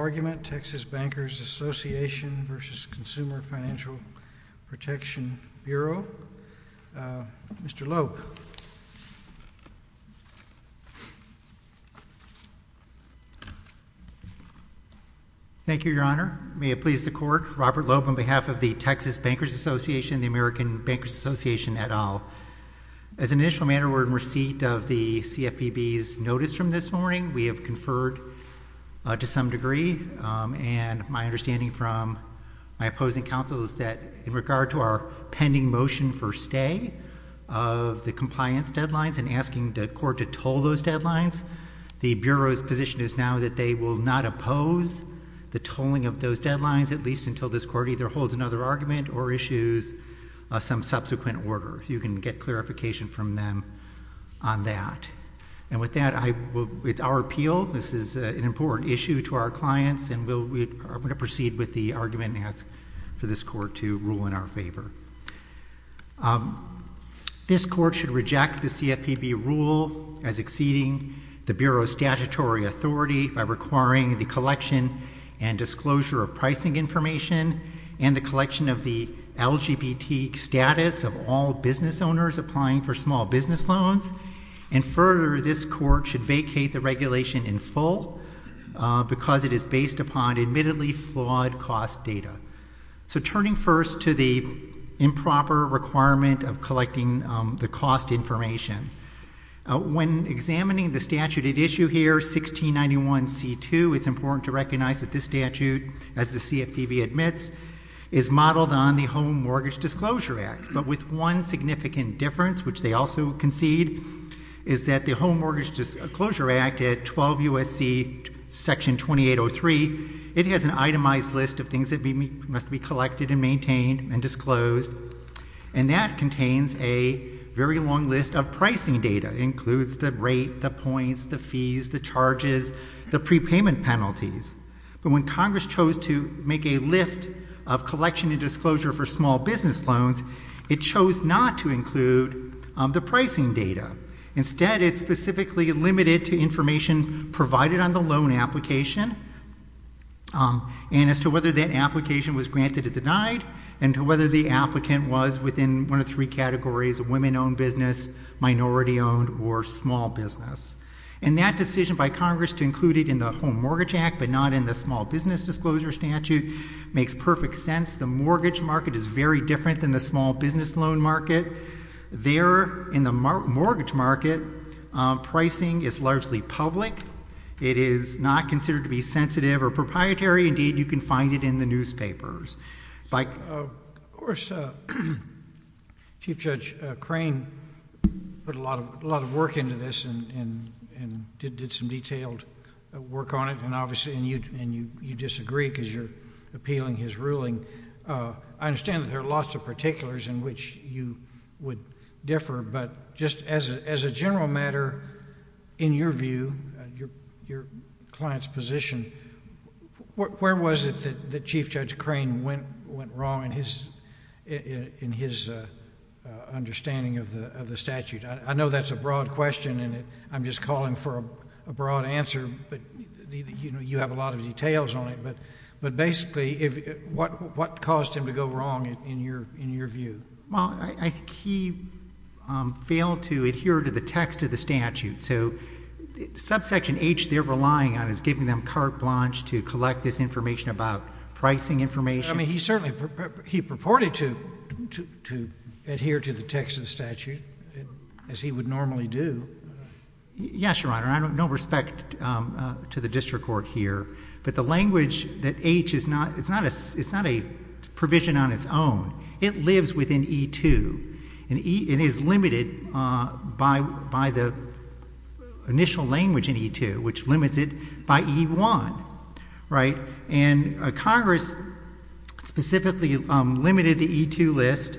Argument, Texas Bankers Association v. Consumer Financial Protection Bureau. Mr. Loeb. Thank you, Your Honor. May it please the Court, Robert Loeb on behalf of the Texas Bankers Association and the American Bankers Association et al. As an initial matter, we're in receipt of the CFPB's notice from this morning. We have conferred to some degree, and my understanding from my opposing counsel is that in regard to our pending motion for stay of the compliance deadlines and asking the Court to toll those deadlines, the Bureau's position is now that they will not oppose the tolling of those deadlines, at least until this Court either holds another argument or issues some subsequent order. You can get clarification from them on that. And with that, it's our appeal. This is an important issue to our clients, and I'm going to proceed with the argument and ask for this Court to rule in our favor. This Court should reject the CFPB rule as exceeding the Bureau's statutory authority by requiring the collection and disclosure of pricing information and the collection of the LGBT status of all business owners applying for small business loans. And further, this Court should vacate the regulation in full because it is based upon admittedly flawed cost data. So turning first to the improper requirement of collecting the cost information, when examining the statute at issue here, 1691C2, it's important to recognize that this statute, as the CFPB admits, is modeled on the Home Mortgage Disclosure Act, but with one significant difference, which they also concede, is that the Home Mortgage Disclosure Act at 12 U.S.C. Section 2803, it has an itemized list of things that must be collected and maintained and disclosed, and that contains a very long list of pricing data. It includes the rate, the points, the fees, the charges, the prepayment penalties. But when Congress chose to make a list of collection and disclosure for small business loans, it chose not to include the pricing data. Instead, it specifically limited to information provided on the loan application and as to whether that application was granted or denied and to whether the applicant was within one of three categories, women-owned business, minority-owned, or small business. And that decision by Congress to include it in the Home Mortgage Act but not in the Small Business Disclosure Statute makes perfect sense. The mortgage market is very different than the small business loan market. There, in the mortgage market, pricing is largely public. It is not considered to be sensitive or proprietary. Indeed, you can find it in the newspapers. Of course, Chief Judge Crane put a lot of work into this and did some detailed work on it, and obviously you disagree because you're appealing his ruling. I understand that there are lots of particulars in which you would differ, but just as a general matter, in your view, your client's position, where was it that Chief Judge Crane went wrong in his understanding of the statute? I know that's a broad question and I'm just calling for a broad answer, but you have a lot of details on it. But basically, what caused him to go wrong in your view? Well, I think he failed to adhere to the text of the statute. So subsection H they're relying on is giving them carte blanche to collect this information about pricing information. I mean, he certainly purported to adhere to the text of the statute, as he would normally do. Yes, Your Honor. I have no respect to the district court here, but the language that H is not, it's not a provision on its own. It lives within E2. It is limited by the initial language in E2, which limits it by E1, right? And Congress specifically limited the E2 list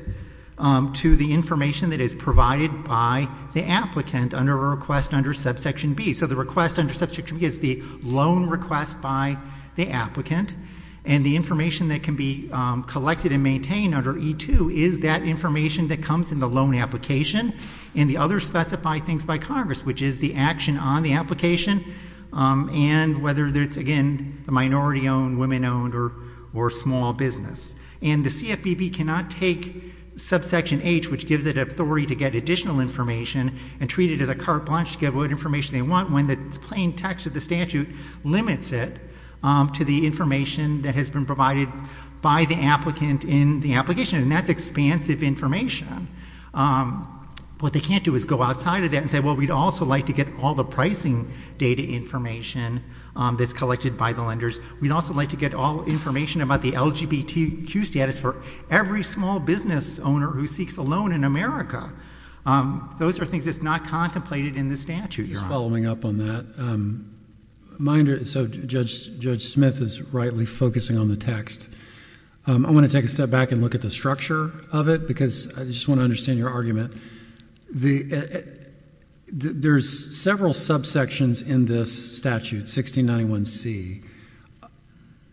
to the information that is provided by the applicant under a request under subsection B. So the request under subsection B is the loan request by the applicant, and the information that can be collected and maintained under E2 is that information that comes in the loan application, and the others specify things by Congress, which is the action on the application and whether it's, again, the minority-owned, women-owned, or small business. And the CFPB cannot take subsection H, which gives it authority to get additional information, and treat it as a carte blanche to get what information they want, when the plain text of the statute limits it to the information that has been provided by the applicant in the application, and that's expansive information. What they can't do is go outside of that and say, well, we'd also like to get all the pricing data information that's collected by the lenders. We'd also like to get all information about the LGBTQ status for every small business owner who seeks a loan in America. Those are things that's not contemplated in the statute, Your Honor. Just following up on that. So Judge Smith is rightly focusing on the text. I want to take a step back and look at the structure of it, because I just want to understand your argument. There's several subsections in this statute, 1691C.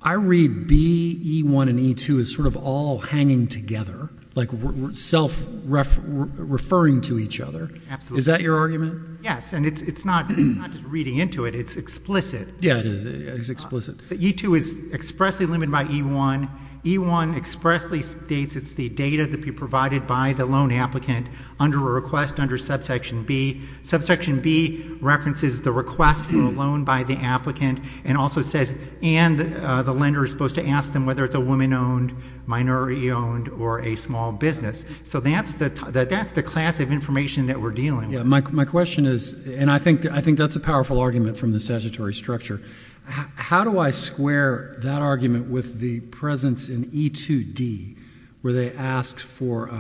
I read B, E1, and E2 as sort of all hanging together, like self-referring to each other. Is that your argument? Yes. And it's not just reading into it. It's explicit. Yeah, it is. It's explicit. E2 is expressly limited by E1. E1 expressly states it's the data that's been provided by the loan applicant under a request under subsection B. Subsection B references the request for a loan by the applicant, and also says, and the lender is supposed to ask them whether it's a woman-owned, minority-owned, or a small business. So that's the class of information that we're dealing with. My question is, and I think that's a powerful argument from the statutory structure. How do I square that argument with the presence in E2D, where they ask for,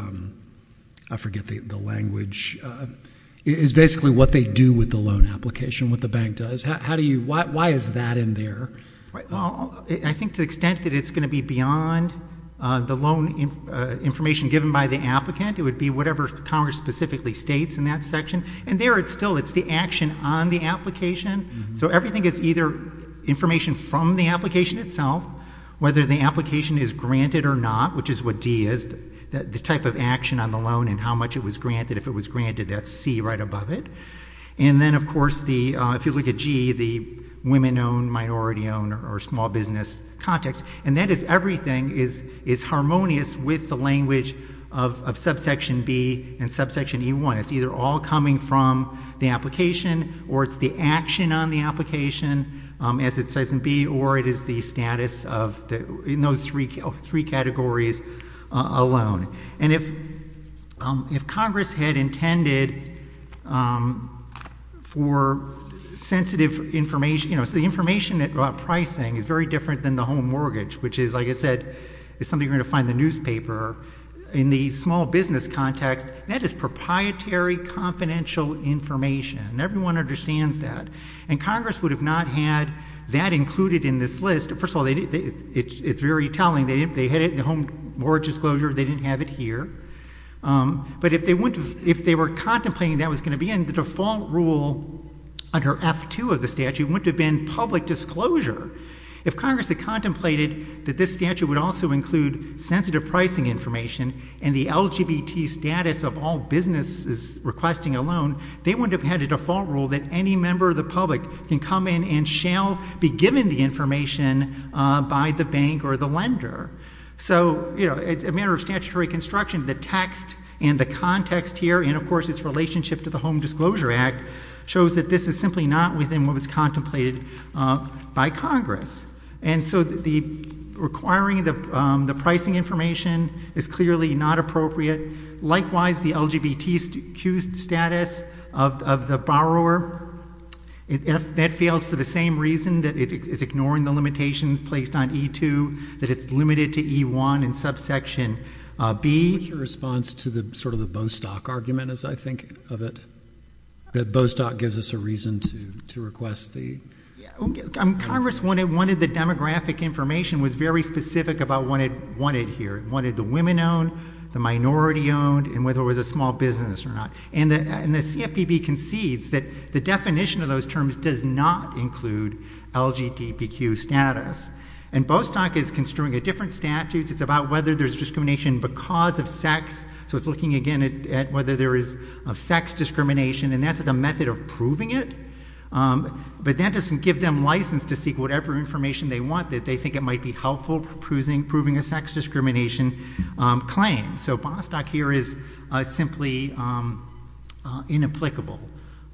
I forget the language, is basically what they do with the loan application, what the bank does. Why is that in there? Well, I think to the extent that it's going to be beyond the loan information given by the applicant, it would be whatever Congress specifically states in that section. And there it's still, it's the action on the application. So everything is either information from the application itself, whether the application is granted or not, which is what D is, the type of action on the loan and how much it was granted. If it was granted, that's C right above it. And then, of course, if you look at G, the women-owned, minority-owned, or small business context. And that is everything is harmonious with the language of subsection B and subsection E1. It's either all coming from the application, or it's the action on the application, as it says in B, or it is the status of those three categories alone. And if Congress had intended for sensitive information, you know, so the information about pricing is very different than the home mortgage, which is, like I said, is something you're going to find in the newspaper. In the small business context, that is proprietary confidential information, and everyone understands that. And Congress would have not had that included in this list. First of all, it's very telling. They had it in the home mortgage disclosure. They didn't have it here. But if they were contemplating that was going to be in, the default rule under F2 of the statute wouldn't have been public disclosure. If Congress had contemplated that this statute would also include sensitive pricing information and the LGBT status of all businesses requesting a loan, they wouldn't have had a default rule that any member of the public can come in and shall be given the information by the bank or the lender. So, you know, it's a matter of statutory construction. The text and the context here, and, of course, its relationship to the Home Disclosure Act, shows that this is simply not within what was contemplated by Congress. And so requiring the pricing information is clearly not appropriate. Likewise, the LGBTQ status of the borrower, that fails for the same reason, that it is ignoring the limitations placed on E2, that it's limited to E1 and subsection B. What's your response to sort of the Bostock argument, as I think of it? That Bostock gives us a reason to request the... Congress wanted the demographic information, was very specific about what it wanted here. It wanted the women-owned, the minority-owned, and whether it was a small business or not. And the CFPB concedes that the definition of those terms does not include LGBTQ status. And Bostock is construing a different statute. It's about whether there's discrimination because of sex. So it's looking, again, at whether there is sex discrimination, and that's the method of proving it. But that doesn't give them license to seek whatever information they want, that they think it might be helpful for proving a sex discrimination claim. So Bostock here is simply inapplicable.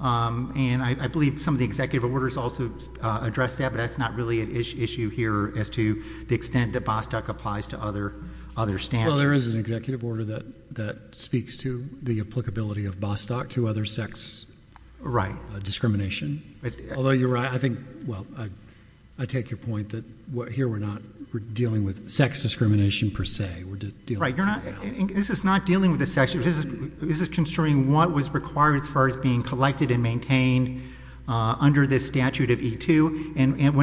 And I believe some of the executive orders also address that, but that's not really an issue here as to the extent that Bostock applies to other statutes. Well, there is an executive order that speaks to the applicability of Bostock to other sex discrimination. Although you're right, I think, well, I take your point that here we're not, we're dealing with sex discrimination per se, we're dealing with something else. This is not dealing with the sex, this is construing what was required as far as being collected and maintained under this statute of E2. And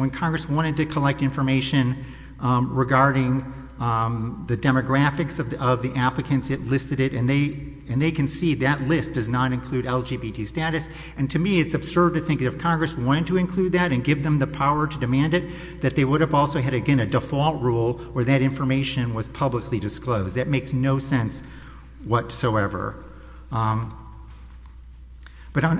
when Congress wanted to collect information regarding the demographics of the applicants that listed it, and they concede that list does not include LGBT status, and to me it's absurd to think that if Congress wanted to include that and give them the power to demand it, that they would have also had, again, a default rule where that information was publicly disclosed. That makes no sense whatsoever. But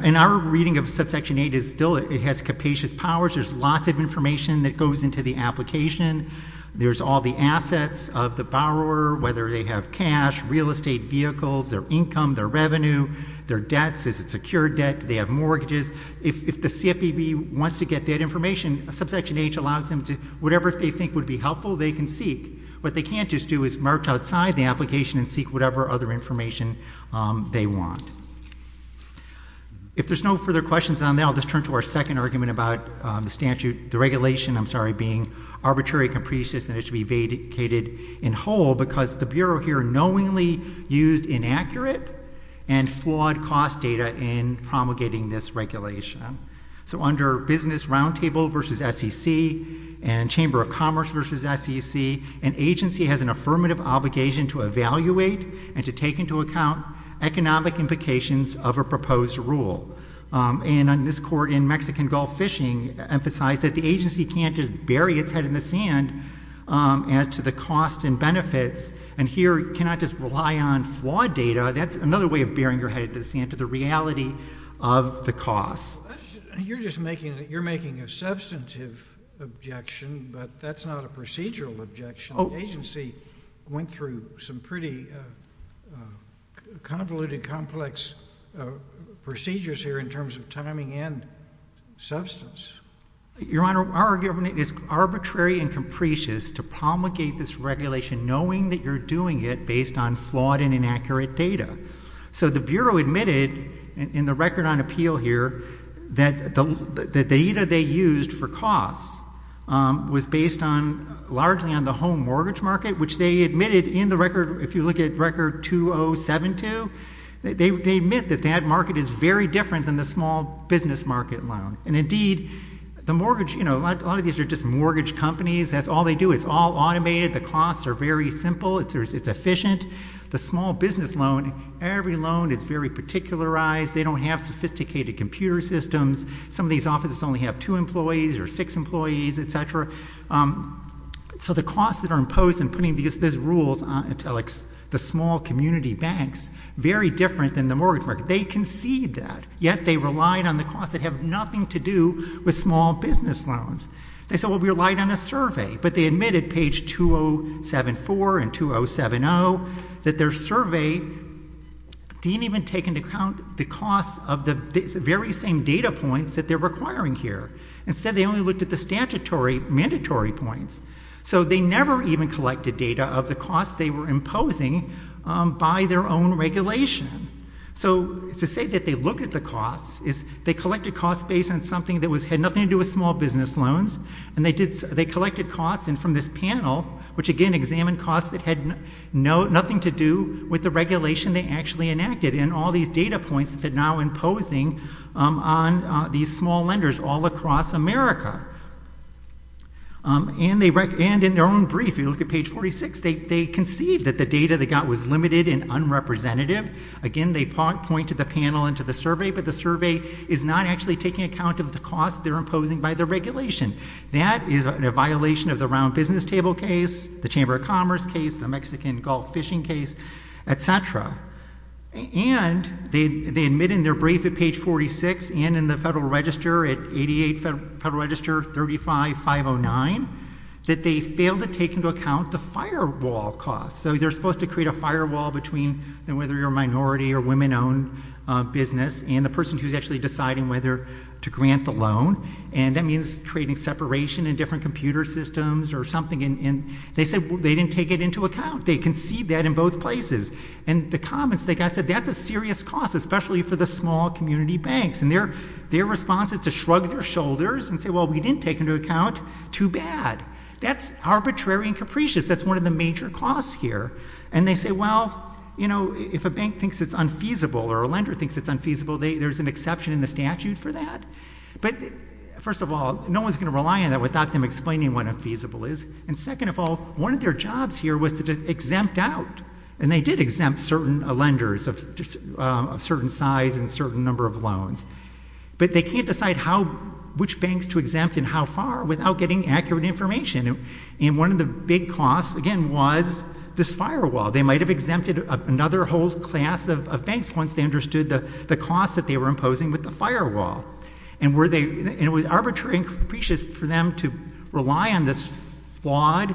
in our reading of Subsection 8, it still has capacious powers. There's lots of information that goes into the application. There's all the assets of the borrower, whether they have cash, real estate vehicles, their income, their revenue, their debts, is it secured debt, do they have mortgages? If the CFPB wants to get that information, Subsection 8 allows them to, whatever they think would be helpful, they can seek. What they can't just do is march outside the application and seek whatever other information they want. If there's no further questions on that, I'll just turn to our second argument about the statute, the regulation, I'm sorry, being arbitrary, capricious, and it should be vacated in whole because the Bureau here knowingly used inaccurate and flawed cost data in promulgating this regulation. So under Business Roundtable v. SEC and Chamber of Commerce v. SEC, an agency has an affirmative obligation to evaluate and to take into account economic implications of a proposed rule. And this Court in Mexican Gulf Fishing emphasized that the agency can't just bury its head in the sand as to the costs and benefits, and here cannot just rely on flawed data. That's another way of burying your head in the sand, to the reality of the costs. You're just making a substantive objection, but that's not a procedural objection. The agency went through some pretty convoluted, complex procedures here in terms of timing and substance. Your Honor, our argument is arbitrary and capricious to promulgate this regulation knowing that you're doing it based on flawed and inaccurate data. So the Bureau admitted in the record on appeal here that the data they used for costs was based largely on the home mortgage market, which they admitted in the record, if you look at Record 2072, they admit that that market is very different than the small business market loan. And, indeed, the mortgage—a lot of these are just mortgage companies. That's all they do. It's all automated. The costs are very simple. It's efficient. The small business loan, every loan is very particularized. They don't have sophisticated computer systems. Some of these offices only have two employees or six employees, et cetera. So the costs that are imposed in putting these rules on the small community banks, very different than the mortgage market. They concede that, yet they relied on the costs that have nothing to do with small business loans. They said, well, we relied on a survey, but they admitted page 2074 and 2070 that their survey didn't even take into account the costs of the very same data points that they're requiring here. Instead, they only looked at the statutory mandatory points. So they never even collected data of the costs they were imposing by their own regulation. So to say that they looked at the costs is they collected costs based on something that had nothing to do with small business loans, and they collected costs, and from this panel, which again examined costs that had nothing to do with the regulation they actually enacted, and all these data points that they're now imposing on these small lenders all across America. And in their own brief, if you look at page 46, they concede that the data they got was limited and unrepresentative. Again, they point to the panel and to the survey, but the survey is not actually taking account of the costs they're imposing by the regulation. That is a violation of the Round Business Table case, the Chamber of Commerce case, the Mexican Gulf fishing case, et cetera. And they admit in their brief at page 46 and in the Federal Register at 88 Federal Register 35509 that they failed to take into account the firewall costs. So they're supposed to create a firewall between whether you're a minority or women-owned business and the person who's actually deciding whether to grant the loan, and that means creating separation in different computer systems or something. And they said they didn't take it into account. They concede that in both places. And the comments they got said that's a serious cost, especially for the small community banks. And their response is to shrug their shoulders and say, well, we didn't take into account too bad. That's arbitrary and capricious. That's one of the major costs here. And they say, well, you know, if a bank thinks it's unfeasible or a lender thinks it's unfeasible, there's an exception in the statute for that. But, first of all, no one's going to rely on that without them explaining what unfeasible is. And, second of all, one of their jobs here was to exempt out. And they did exempt certain lenders of certain size and certain number of loans. But they can't decide which banks to exempt and how far without getting accurate information. And one of the big costs, again, was this firewall. They might have told a class of banks once they understood the cost that they were imposing with the firewall. And it was arbitrary and capricious for them to rely on this flawed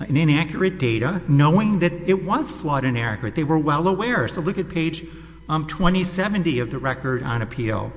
and inaccurate data knowing that it was flawed and inaccurate. They were well aware. So look at page 2070 of the record on appeal.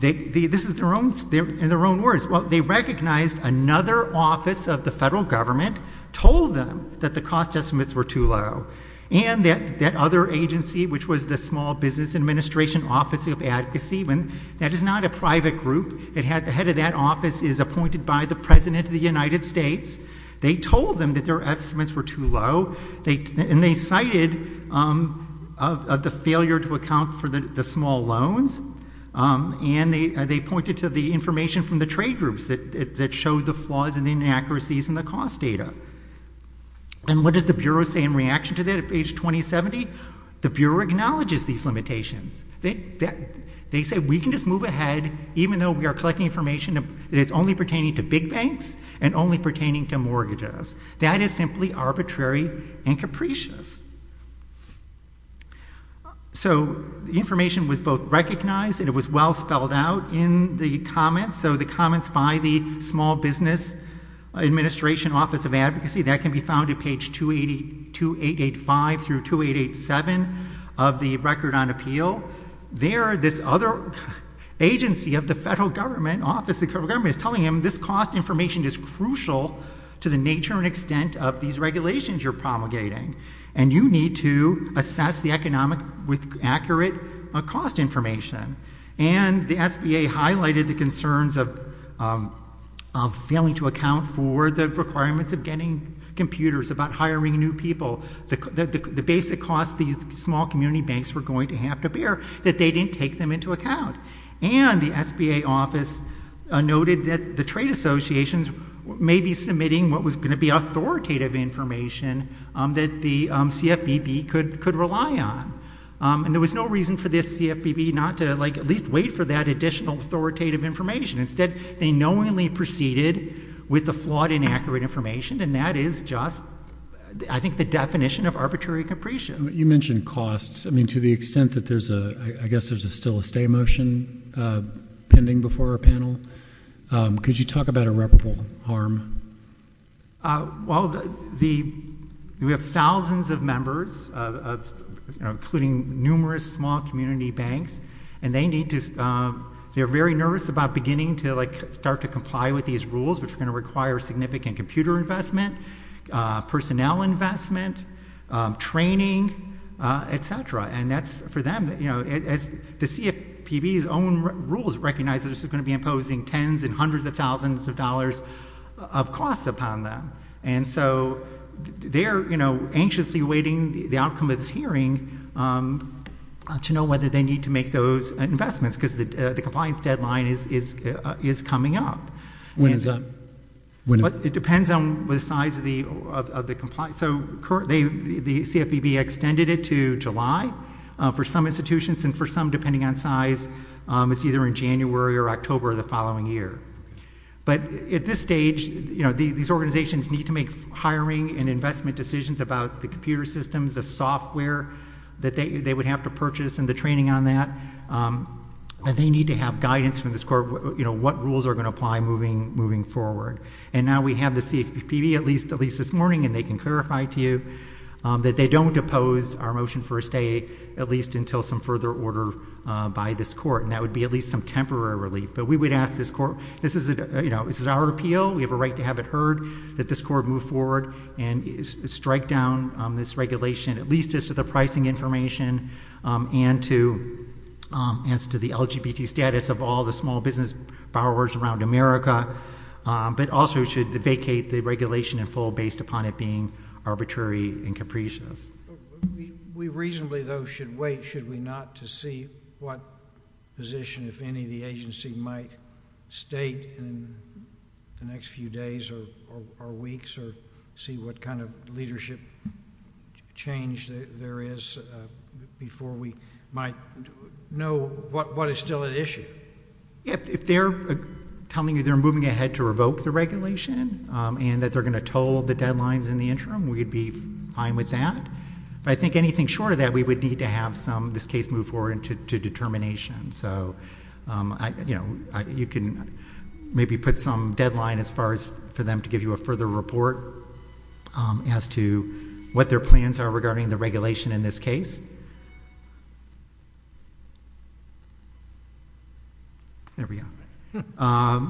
This is in their own words. Well, they recognized another office of the federal government told them that the cost estimates were too low. And that other agency, which was the Small Business Administration Office of Ad Kaseeman, that is not a private group. The head of that office is appointed by the President of the United States. They told them that their estimates were too low. And they cited the failure to account for the small loans. And they pointed to the information from the trade groups that showed the flaws and inaccuracies in the cost data. And what does the Bureau say in reaction to that at page 2070? The Bureau acknowledges these limitations. They say, we can just move ahead, even though we are collecting information that is only pertaining to big banks and only pertaining to mortgages. That is simply arbitrary and capricious. So the information was both recognized and it was well spelled out in the comments. So the comments by the Small Business Administration Office of Advocacy, that can be found at page 2885 through 2887 of the record on appeal. There, this other agency of the federal government, office of the federal government, is telling them this cost information is crucial to the nature and extent of these regulations you are promulgating. And you need to assess the economic, with accurate cost information. And the SBA highlighted the concerns of failing to account for the requirements of getting computers, about hiring new people, the basic costs these small community banks were going to have to bear, that they didn't take them into account. And the SBA office noted that the trade associations may be submitting what was going to be authoritative information that the CFPB could rely on. And there was no reason for this CFPB not to at least wait for that additional authoritative information. Instead, they knowingly proceeded with the flawed, inaccurate information. And that is just, I think, the definition of arbitrary and capricious. You mentioned costs. I mean, to the extent that there's a, I guess there's still a stay motion pending before our panel. Could you talk about irreparable harm? Well, the, we have thousands of members, you know, including numerous small community banks, and they need to, they're very nervous about beginning to like start to comply with these rules, which are going to require significant computer investment, personnel investment, training, et cetera. And that's for them, you know, as the CFPB's own rules recognize that this is going to be imposing tens and hundreds of thousands of dollars of costs upon them. And so they're, you know, anxiously awaiting the outcome of this hearing to know whether they need to make those investments, because the compliance deadline is coming up. When is that? It depends on the size of the compliance. So the CFPB extended it to July for some institutions and for some, depending on size, it's either in January or October of the following year. But at this stage, you know, these organizations need to make hiring and investment decisions about the computer systems, the software that they would have to purchase and the training on that. And they need to have guidance from this court, you know, what rules are going to apply moving forward. And now we have the CFPB at least this morning, and they can clarify to you that they don't oppose our motion for a stay, at least until some further order by this court. And that would be at least some temporary relief. But we would ask this court, this is, you know, this is our appeal. We have a right to have it heard that this court move forward and strike down this regulation, at least as to the pricing information and to, and as to the LGBT status of all the small business borrowers around America. But also should vacate the regulation in full based upon it being arbitrary and We reasonably though should wait, should we not, to see what position, if any, the agency might state in the next few days or weeks or see what kind of leadership change there is before we might know what is still at issue. If they're telling you they're moving ahead to revoke the regulation and that they're going to toll the deadlines in the interim, we'd be fine with that. But I think anything short of that, we would need to have some, this case move forward to determination. So, you know, you can maybe put some deadline as far as for them to give you a further report as to what their plans are regarding the regulation in this case.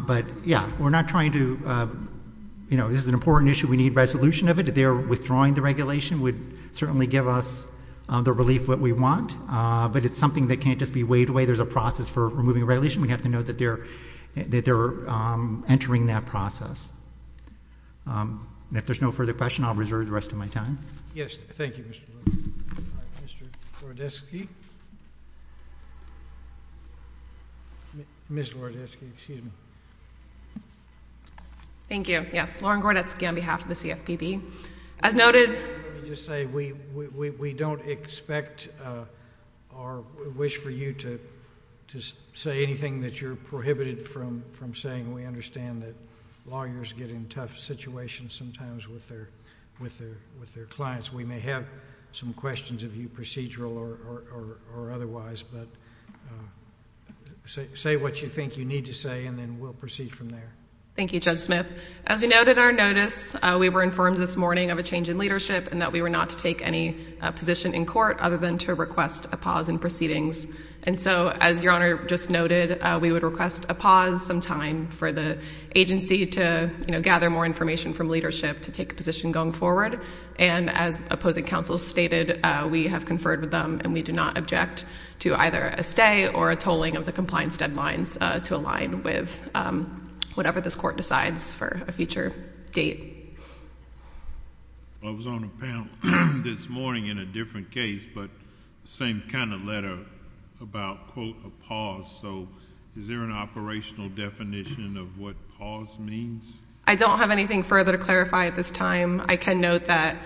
But yeah, we're not trying to, you know, this is an important issue. We need resolution of it. If they're withdrawing the regulation would certainly give us the relief that we want. But it's something that can't just be waved away. There's a process for removing the regulation. We have to know that they're entering that process. And if there's no further question, I'll reserve the rest of my time. Yes, thank you, Mr. Lewis. Mr. Gordetsky. Ms. Gordetsky, excuse me. Thank you. Yes, Lauren Gordetsky on behalf of the CFPB. As noted. Let me just say we don't expect or wish for you to say anything that you're prohibited from saying. We understand that lawyers get in tough situations sometimes with their clients. We may have some questions of you procedural or otherwise. But say what you think you need to say and then we'll proceed from there. Thank you, Judge Smith. As we noted in our notice, we were informed this morning of a change in leadership and that we were not to take any position in court other than to request a pause in proceedings. And so as Your Honor just noted, we would request a pause sometime for the agency to gather more information from leadership to take a position going forward. And as opposing counsel stated, we have conferred with them and we do not object to either a stay or a tolling of the compliance deadlines to align with whatever this court decides for a future date. I was on a panel this morning in a different case, but same kind of letter about quote a pause. So is there an operational definition of what pause means? I don't have anything further to clarify at this time. I can note that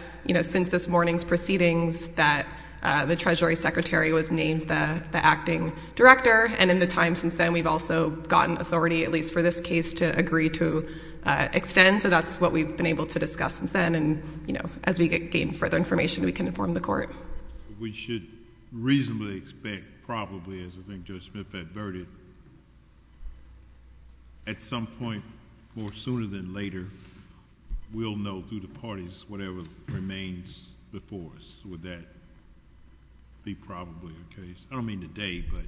since this morning's proceedings that the Treasury Secretary was named the acting director. And in the time since then, we've also gotten authority, at least for this case, to agree to extend. So that's what we've been able to discuss since then. And, you know, as we gain further information, we can inform the court. We should reasonably expect, probably, as I think Judge Smith adverted, at some point more sooner than later, we'll know through the parties whatever remains before us. Would that be probably the case? I don't mean today, but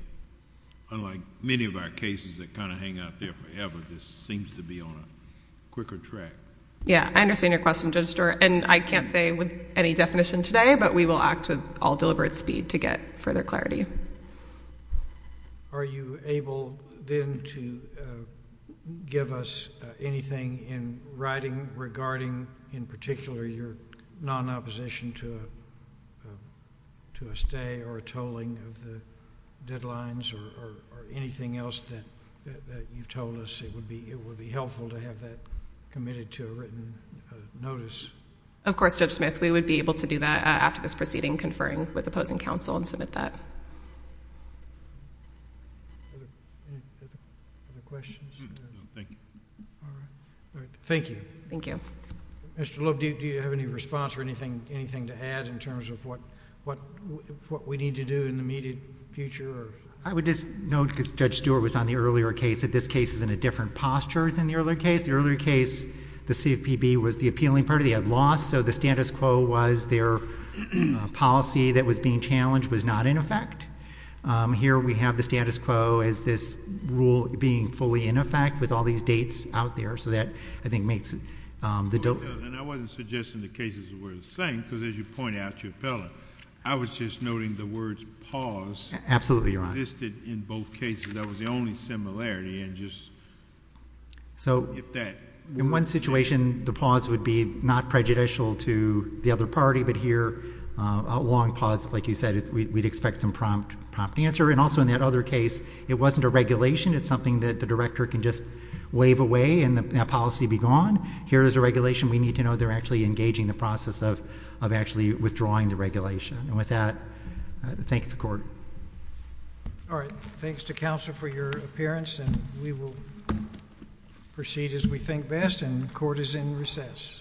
unlike many of our cases that kind of hang out there forever, this seems to be on a quicker track. Yeah. I understand your question, Judge Stewart. And I can't say with any definition today, but we will act with all deliberate speed to get further clarity. Are you able, then, to give us anything in writing regarding, in particular, your non-opposition to a stay or a tolling of the deadlines or anything else that you've told us? It would be helpful to have that committed to a written notice. Of course, Judge Smith. We would be able to do that after this proceeding, conferring with opposing counsel and submit that. Any other questions? No, thank you. All right. Thank you. Thank you. Mr. Loeb, do you have any response or anything to add in terms of what we need to do in the immediate future? I would just note, because Judge Stewart was on the earlier case, that this case is in a different posture than the earlier case. The earlier case, the CFPB was the appealing party. They had lost, so the status quo was their policy that was being challenged was not in effect. Here we have the status quo as this rule being fully in effect with all these dates out there, so that, I think, makes the difference. I wasn't suggesting the cases were the same, because as you pointed out to your appellant, I was just noting the words pause existed in both cases. That was the only similarity. In one situation, the pause would be not prejudicial to the other party, but here, a long pause, like you said, we'd expect some prompt answer. Also, in that other case, it wasn't a regulation. It's something that the director can just wave away and the policy be gone. Here is a regulation. We need to know they're actually engaging the process of actually withdrawing the regulation. And with that, I thank the Court. All right. Thanks to counsel for your appearance, and we will proceed as we think best, and the Court is in recess.